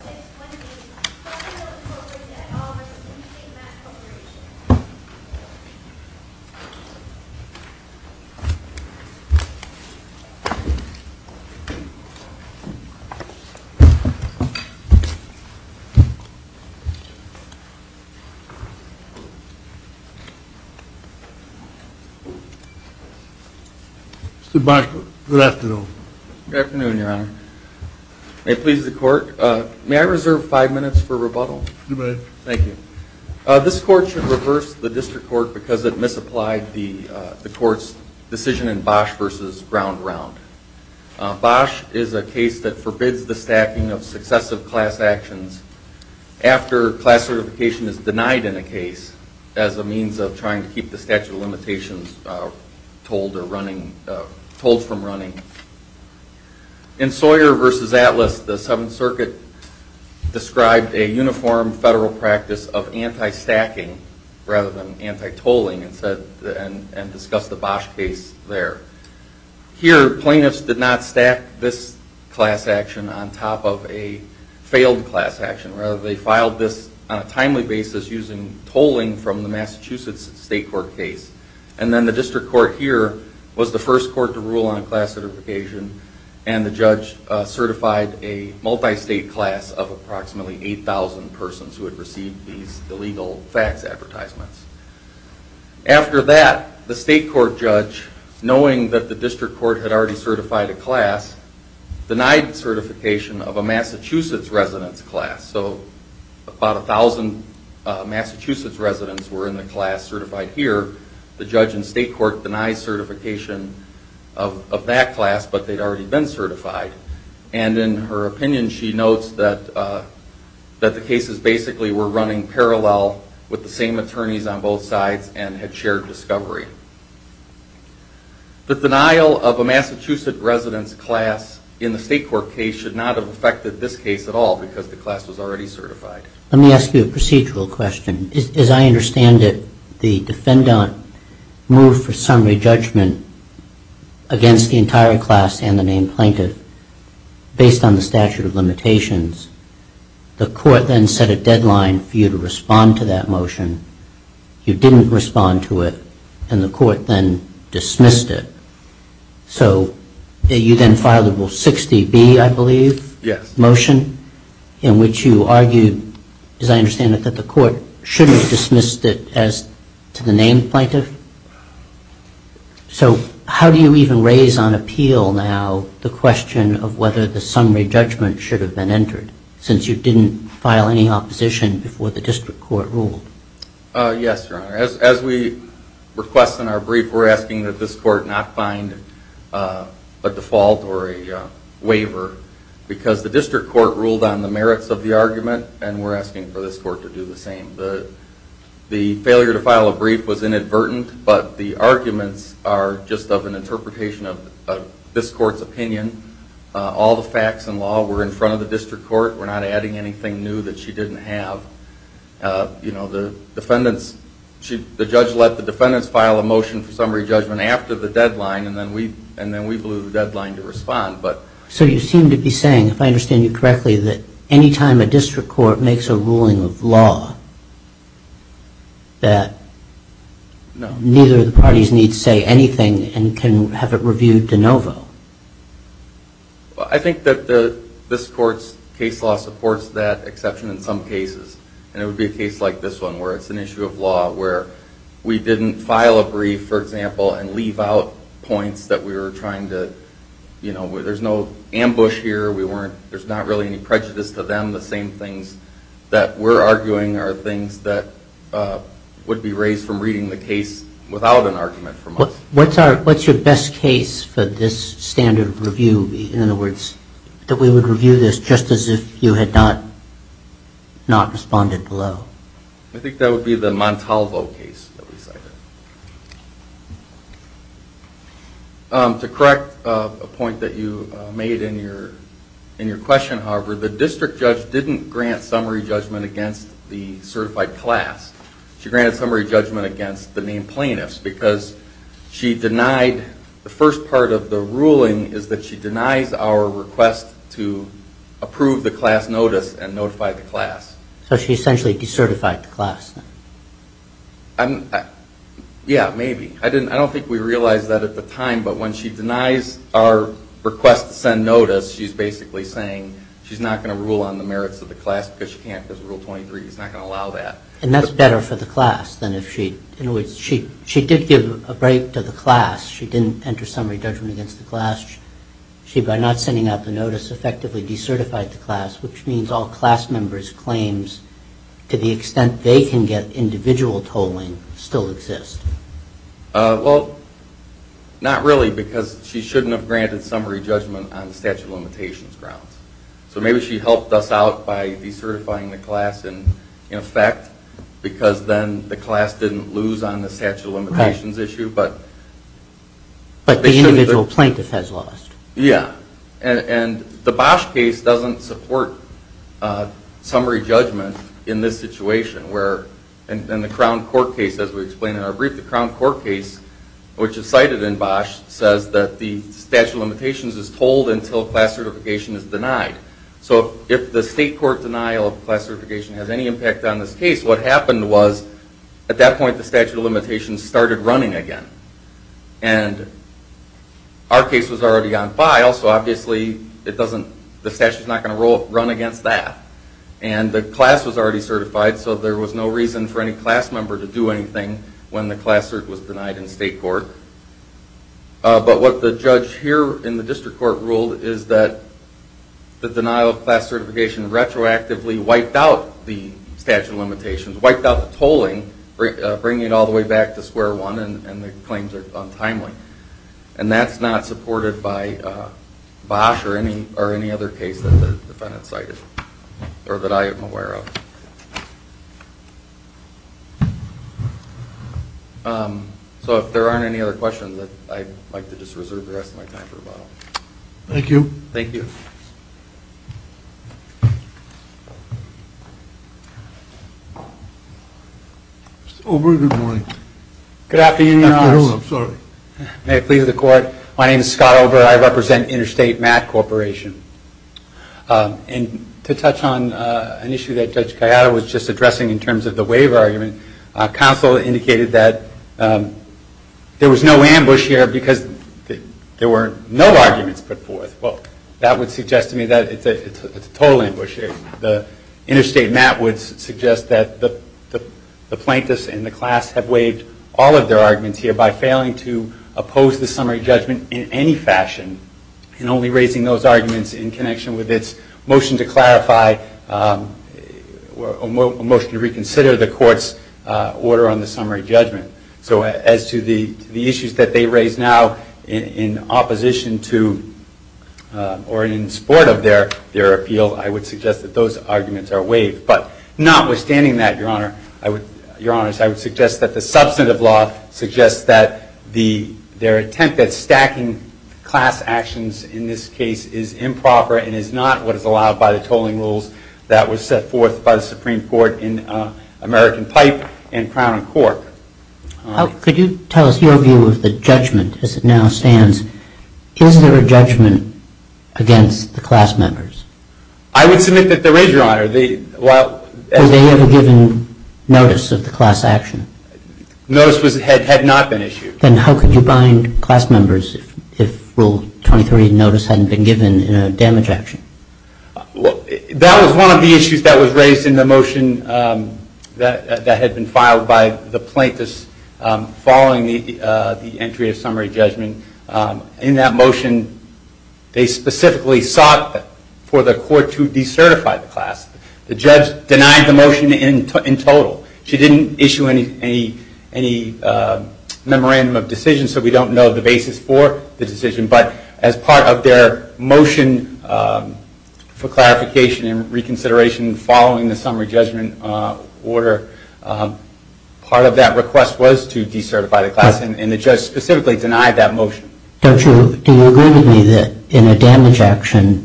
Mr. Blankenship, Cargill Incorporated at all v. Interstate Mat Corporation Mr. Blankenship, good afternoon. May I reserve five minutes for rebuttal? You may. Thank you. This court should reverse the district court because it misapplied the court's decision in Bosch v. Ground Round. Bosch is a case that forbids the stacking of successive class actions after class certification is denied in a case as a means of trying to keep the statute of limitations told from running. In Sawyer v. Atlas, the Seventh Circuit described a uniform federal practice of anti-stacking rather than anti-tolling and discussed the Bosch case there. Here, plaintiffs did not stack this class action on top of a failed class action. Rather, they filed this on a timely basis using tolling from the Massachusetts State Court case. And then the district court here was the first court to rule on class certification and the judge certified a multi-state class of approximately 8,000 persons who had received these illegal fax advertisements. After that, the state court judge, knowing that the district court had already certified a class, denied certification of a Massachusetts residence class. So about 1,000 Massachusetts residents were in the class certified here. The judge in state court denied certification of that class, but they'd already been certified. And in her opinion, she notes that the cases basically were running parallel with the same attorneys on both sides and had shared discovery. The denial of a Massachusetts residence class in the state court case should not have affected this case at all because the class was already certified. Let me ask you a procedural question. As I understand it, the defendant moved for summary judgment against the entire class and the named plaintiff based on the statute of limitations. The court then set a deadline for you to respond to that motion. You didn't respond to it, and the court then dismissed it. So you then filed a Rule 60B, I believe, motion in which you argued, as I understand it, that the court shouldn't have dismissed it as to the named plaintiff. So how do you even raise on appeal now the question of whether the summary judgment should have been entered since you didn't file any opposition before the district court ruled? Yes, Your Honor. As we request in our brief, we're asking that this court not find a default or a waiver because the district court ruled on the merits of the argument, and we're asking for this court to do the same. The failure to file a brief was inadvertent, but the arguments are just of an interpretation of this court's opinion. All the facts and law were in front of the district court. We're not adding anything new that she didn't have. The judge let the defendants file a motion for summary judgment after the deadline, and then we blew the deadline to respond. So you seem to be saying, if I understand you correctly, that any time a district court makes a ruling of law, that neither of the parties needs say anything and can have it reviewed de novo. I think that this court's case law supports that exception in some cases, and it would be a case like this one where it's an issue of law where we didn't file a brief, for example, and leave out points that we were trying to, you know, there's no ambush here. There's not really any prejudice to them. The same things that we're arguing are things that would be raised from reading the case without an argument from us. What's your best case for this standard review? In other words, that we would review this just as if you had not responded below? I think that would be the Montalvo case that we cited. To correct a point that you made in your question, however, the district judge didn't grant summary judgment against the certified class. She granted summary judgment against the main plaintiffs because she denied, the first part of the ruling is that she denies our request to approve the class notice and notify the class. So she essentially decertified the class? Yeah, maybe. I don't think we realized that at the time, but when she denies our request to send notice, she's basically saying she's not going to rule on the merits of the class because she can't, because Rule 23 is not going to allow that. And that's better for the class than if she, in other words, she did give a break to the class. She didn't enter summary judgment against the class. She, by not sending out the notice, effectively decertified the class, which means all class members' claims to the extent they can get individual tolling still exist. Well, not really, because she shouldn't have granted summary judgment on the statute of limitations grounds. So maybe she helped us out by decertifying the class in effect, because then the class didn't lose on the statute of limitations issue. But the individual plaintiff has lost. Yeah. And the Bosch case doesn't support summary judgment in this situation, where in the Crown Court case, as we explained in our brief, the Crown Court case, which is cited in Bosch, says that the statute of limitations is tolled until class certification is denied. So if the state court denial of class certification has any impact on this case, what happened was at that point the statute of limitations started running again. And our case was already on file, so obviously the statute is not going to run against that. And the class was already certified, so there was no reason for any class member to do anything when the class was denied in state court. But what the judge here in the district court ruled is that the denial of class certification retroactively wiped out the statute of limitations, wiped out the tolling, bringing it all the way back to square one, and the claims are untimely. And that's not supported by Bosch or any other case that the defendant cited, or that I am aware of. So if there aren't any other questions, I'd like to just reserve the rest of my time for rebuttal. Thank you. Thank you. Mr. Olber, good morning. Good afternoon, Your Honor. I'm sorry. May it please the Court. My name is Scott Olber. I represent Interstate MAT Corporation. And to touch on an issue that Judge Gallardo was just addressing in terms of the waiver argument, counsel indicated that there was no ambush here because there were no arguments put forth. Well, that would suggest to me that it's a total ambush here. Interstate MAT would suggest that the plaintiffs and the class have waived all of their arguments here by failing to oppose the summary judgment in any fashion, and only raising those arguments in connection with its motion to clarify or motion to reconsider the Court's order on the summary judgment. So as to the issues that they raise now in opposition to or in support of their appeal, I would suggest that those arguments are waived. But notwithstanding that, Your Honor, I would suggest that the substantive law suggests that their attempt at stacking class actions in this case is improper and is not what is allowed by the tolling rules that was set forth by the Supreme Court in American Pipe and Crown and Cork. Could you tell us your view of the judgment as it now stands? Is there a judgment against the class members? I would submit that there is, Your Honor. Were they ever given notice of the class action? Notice had not been issued. Then how could you bind class members if Rule 23 notice hadn't been given in a damage action? That was one of the issues that was raised in the motion that had been filed by the plaintiffs following the entry of summary judgment. In that motion, they specifically sought for the Court to decertify the class. The judge denied the motion in total. She didn't issue any memorandum of decision, so we don't know the basis for the decision. But as part of their motion for clarification and reconsideration following the summary judgment order, part of that request was to decertify the class, and the judge specifically denied that motion. Do you agree with me that in a damage action,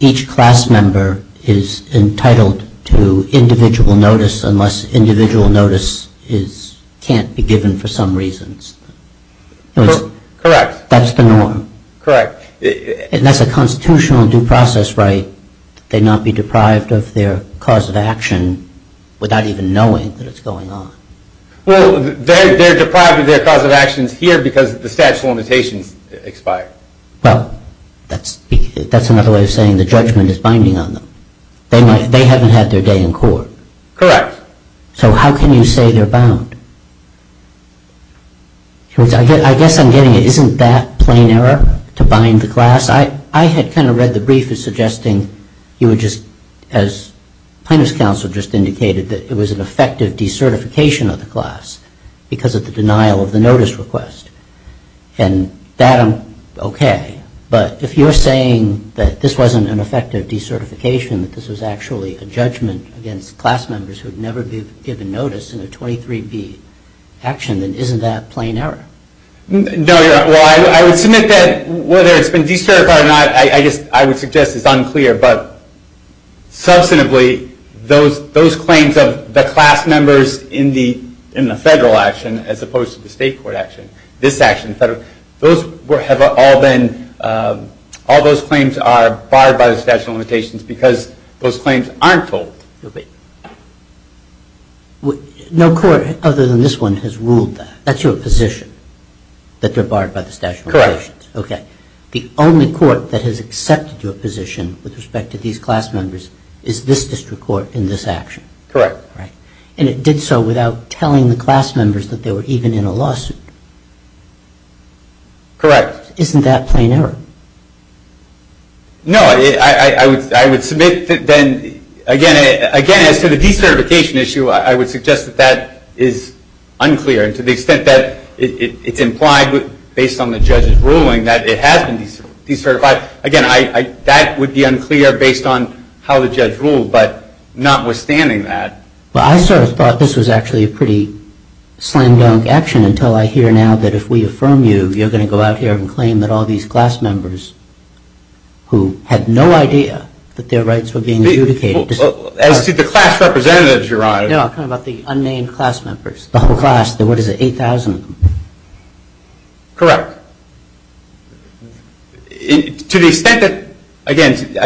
each class member is entitled to individual notice unless individual notice can't be given for some reasons? Correct. That's the norm? Correct. And that's a constitutional due process right that they not be deprived of their cause of action without even knowing that it's going on? Well, they're deprived of their cause of actions here because the statute of limitations expired. Well, that's another way of saying the judgment is binding on them. They haven't had their day in court. Correct. So how can you say they're bound? I guess I'm getting it. Isn't that plain error to bind the class? I had kind of read the brief as suggesting you would just, as plaintiff's counsel just indicated, that it was an effective decertification of the class because of the denial of the notice request. And that I'm okay. But if you're saying that this wasn't an effective decertification, that this was actually a judgment against class members who had never been given notice in a 23B action, then isn't that plain error? No, you're right. Well, I would submit that whether it's been decertified or not, I would suggest it's unclear. But substantively, those claims of the class members in the federal action as opposed to the state court action, all those claims are barred by the statute of limitations because those claims aren't told. No court other than this one has ruled that. That's your position, that they're barred by the statute of limitations. Correct. Okay. The only court that has accepted your position with respect to these class members is this district court in this action. Correct. And it did so without telling the class members that they were even in a lawsuit. Correct. Isn't that plain error? No. I would submit that then, again, as to the decertification issue, I would suggest that that is unclear. And to the extent that it's implied based on the judge's ruling that it has been decertified, again, that would be unclear based on how the judge ruled, but notwithstanding that. Well, I sort of thought this was actually a pretty slam dunk action until I hear now that if we affirm you, you're going to go out here and claim that all these class members who had no idea that their rights were being adjudicated. As to the class representatives, Your Honor. No, I'm talking about the unnamed class members. The whole class. What is it, 8,000 of them? Correct. To the extent that, again,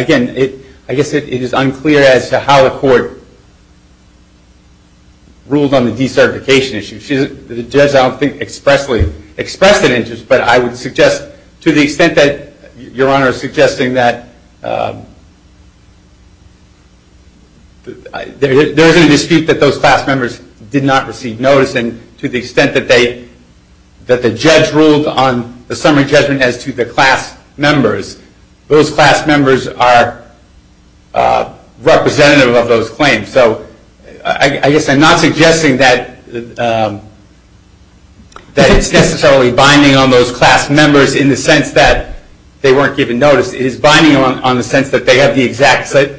I guess it is unclear as to how the court ruled on the decertification issue. The judge, I don't think, expressly expressed an interest, but I would suggest to the extent that Your Honor is suggesting that there is a dispute that those class members did not receive notice, and to the extent that the judge ruled on the summary judgment as to the class members, those class members are representative of those claims. So I guess I'm not suggesting that it's necessarily binding on those class members in the sense that they weren't given notice. It is binding on the sense that they have the exact type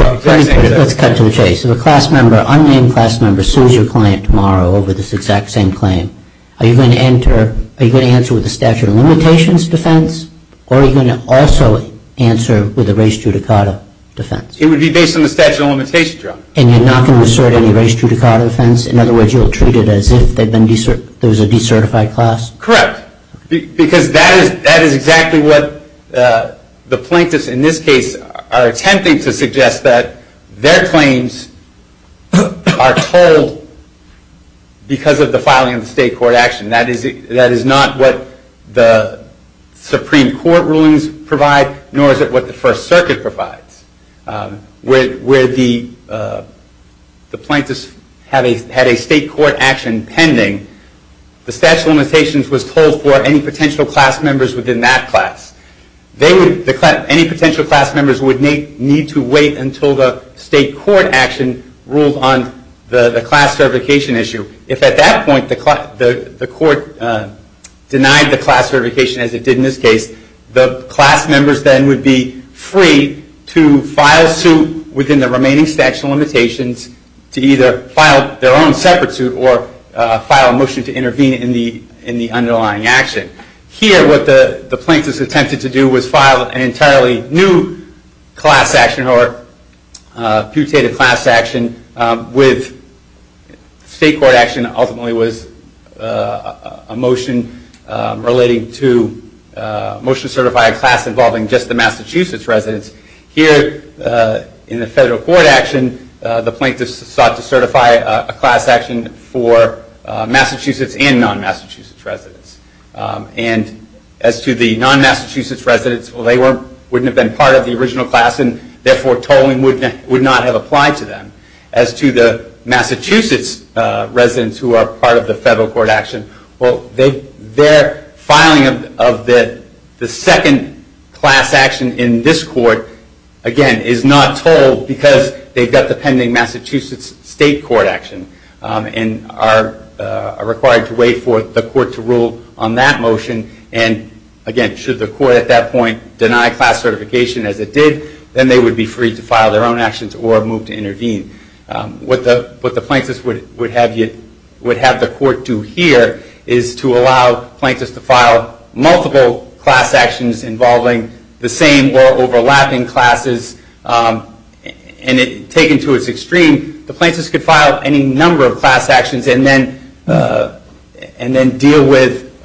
of detection. Let's cut to the chase. If a class member, unnamed class member, sues your client tomorrow over this exact same claim, are you going to answer with a statute of limitations defense, or are you going to also answer with a res judicata defense? It would be based on the statute of limitations, Your Honor. And you're not going to assert any res judicata defense? In other words, you'll treat it as if there was a decertified class? Correct. Because that is exactly what the plaintiffs in this case are attempting to suggest, that their claims are told because of the filing of the state court action. That is not what the Supreme Court rulings provide, nor is it what the First Circuit provides. Where the plaintiffs had a state court action pending, the statute of limitations was told for any potential class members within that class. Any potential class members would need to wait until the state court action ruled on the class certification issue. If at that point the court denied the class certification, as it did in this case, the class members then would be free to file suit within the remaining statute of limitations to either file their own separate suit or file a motion to intervene in the underlying action. Here what the plaintiffs attempted to do was file an entirely new class action, or a putative class action with state court action ultimately was a motion relating to a motion to certify a class involving just the Massachusetts residents. Here in the federal court action, the plaintiffs sought to certify a class action for Massachusetts and non-Massachusetts residents. As to the non-Massachusetts residents, they wouldn't have been part of the original class and therefore tolling would not have applied to them. As to the Massachusetts residents who are part of the federal court action, their filing of the second class action in this court is not tolled because they've got the pending Massachusetts state court action and are required to wait for the court to rule on that motion. Again, should the court at that point deny class certification as it did, then they would be free to file their own actions or move to intervene. What the plaintiffs would have the court do here is to allow plaintiffs to file multiple class actions involving the same or overlapping classes. Taken to its extreme, the plaintiffs could file any number of class actions and then deal with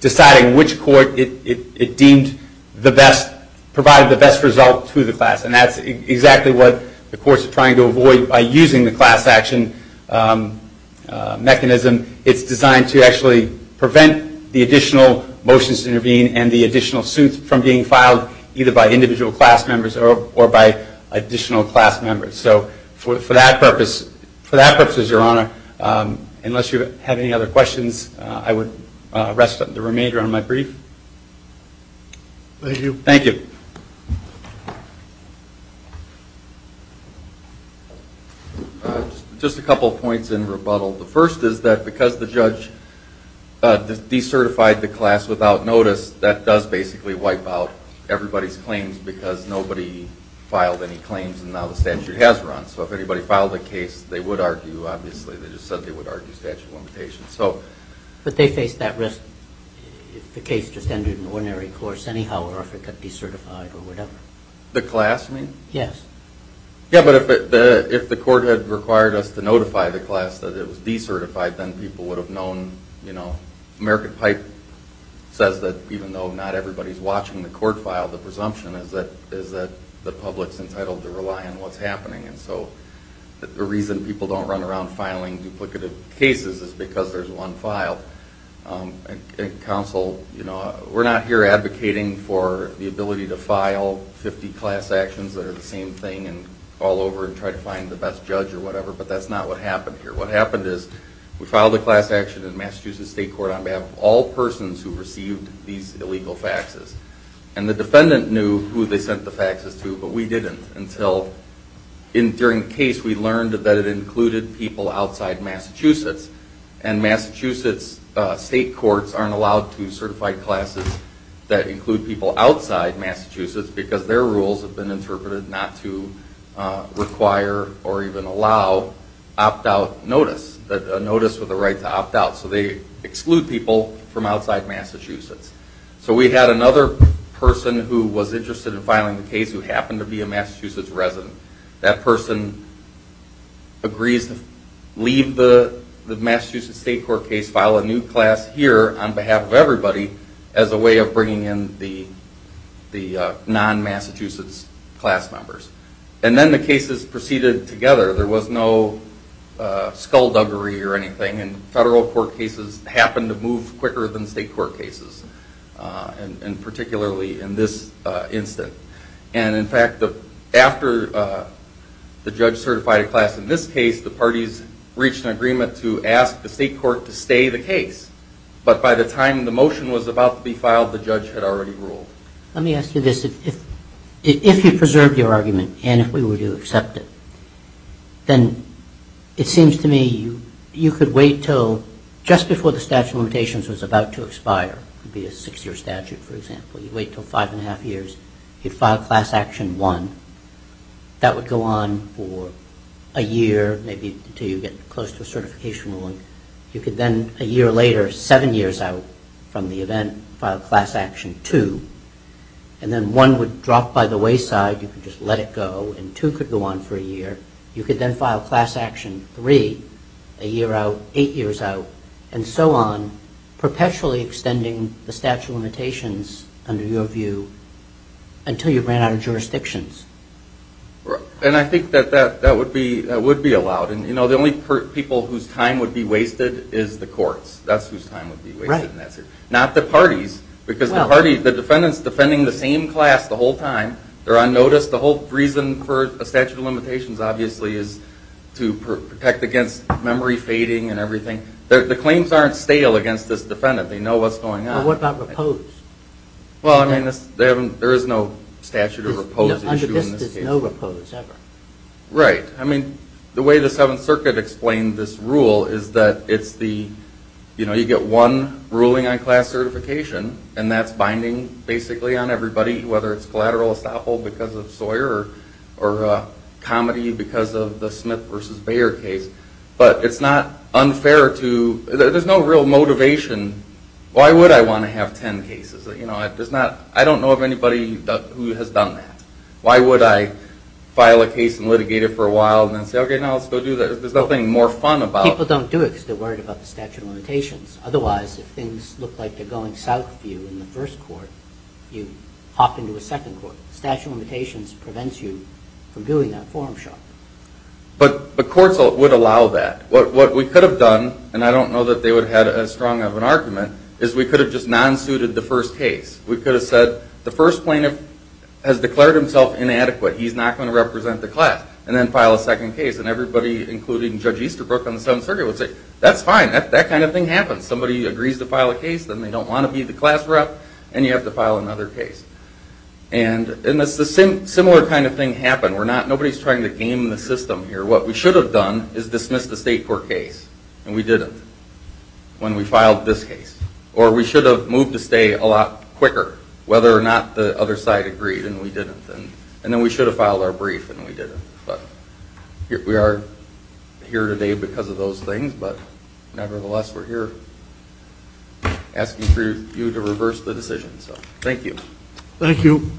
deciding which court it deemed provided the best result to the class. And that's exactly what the courts are trying to avoid by using the class action mechanism. It's designed to actually prevent the additional motions to intervene and the additional suits from being filed either by individual class members or by additional class members. So for that purpose, for that purpose, Your Honor, unless you have any other questions, I would rest the remainder on my brief. Thank you. Thank you. Just a couple of points in rebuttal. The first is that because the judge decertified the class without notice, that does basically wipe out everybody's claims because nobody filed any claims and now the statute has run. So if anybody filed a case, they would argue, obviously, they just said they would argue statute of limitations. But they face that risk if the case just ended in ordinary course anyhow or if it got decertified or whatever. The class, you mean? Yes. Yeah, but if the court had required us to notify the class that it was decertified, then people would have known. American Pipe says that even though not everybody's watching the court file, the presumption is that the public's entitled to rely on what's happening. And so the reason people don't run around filing duplicative cases is because there's one file. Counsel, we're not here advocating for the ability to file 50 class actions that are the same thing and fall over and try to find the best judge or whatever, but that's not what happened here. What happened is we filed a class action in Massachusetts State Court on behalf of all persons who received these illegal faxes. And the defendant knew who they sent the faxes to, but we didn't until during the case we learned that it included people outside Massachusetts. And Massachusetts State Courts aren't allowed to certify classes that include people outside Massachusetts because their rules have been interpreted not to require or even allow opt-out notice, a notice with the right to opt out. So they exclude people from outside Massachusetts. So we had another person who was interested in filing the case who happened to be a Massachusetts resident. That person agrees to leave the Massachusetts State Court case, file a new class here on behalf of everybody as a way of bringing in the non-Massachusetts class members. And then the cases proceeded together. There was no skullduggery or anything, and federal court cases happen to move quicker than state court cases, and particularly in this instance. And, in fact, after the judge certified a class in this case, the parties reached an agreement to ask the state court to stay the case. But by the time the motion was about to be filed, the judge had already ruled. Let me ask you this. If you preserved your argument and if we were to accept it, it would be a six-year statute, for example. You'd wait until five and a half years. You'd file class action one. That would go on for a year, maybe until you get close to a certification ruling. You could then, a year later, seven years out from the event, file class action two. And then one would drop by the wayside. You could just let it go, and two could go on for a year. You could then file class action three, a year out, eight years out, and so on, perpetually extending the statute of limitations, under your view, until you ran out of jurisdictions. And I think that that would be allowed. The only people whose time would be wasted is the courts. That's whose time would be wasted. Not the parties, because the defendant's defending the same class the whole time. They're on notice. The whole reason for a statute of limitations, obviously, is to protect against memory fading and everything. The claims aren't stale against this defendant. They know what's going on. Well, what about repose? Well, I mean, there is no statute of repose issue in this case. Under this, there's no repose, ever. Right. I mean, the way the Seventh Circuit explained this rule is that you get one ruling on class certification, and that's binding, basically, on everybody, whether it's collateral estoppel because of Sawyer or comedy because of the Smith v. Bayer case. But it's not unfair to – there's no real motivation. Why would I want to have 10 cases? I don't know of anybody who has done that. Why would I file a case and litigate it for a while and then say, okay, now let's go do that? There's nothing more fun about it. People don't do it because they're worried about the statute of limitations. Otherwise, if things look like they're going south for you in the first court, you hop into a second court. The statute of limitations prevents you from doing that forum shot. But courts would allow that. What we could have done, and I don't know that they would have had as strong of an argument, is we could have just non-suited the first case. We could have said, the first plaintiff has declared himself inadequate. He's not going to represent the class. And then file a second case, and everybody, including Judge Easterbrook on the Seventh Circuit, would say, that's fine. That kind of thing happens. Somebody agrees to file a case, then they don't want to be the class rep, and you have to file another case. And a similar kind of thing happened. Nobody's trying to game the system here. What we should have done is dismissed the state court case, and we didn't when we filed this case. Or we should have moved to stay a lot quicker, whether or not the other side agreed, and we didn't. And then we should have filed our brief, and we didn't. We are here today because of those things, but nevertheless, we're here asking for you to reverse the decision. Thank you. Thank you.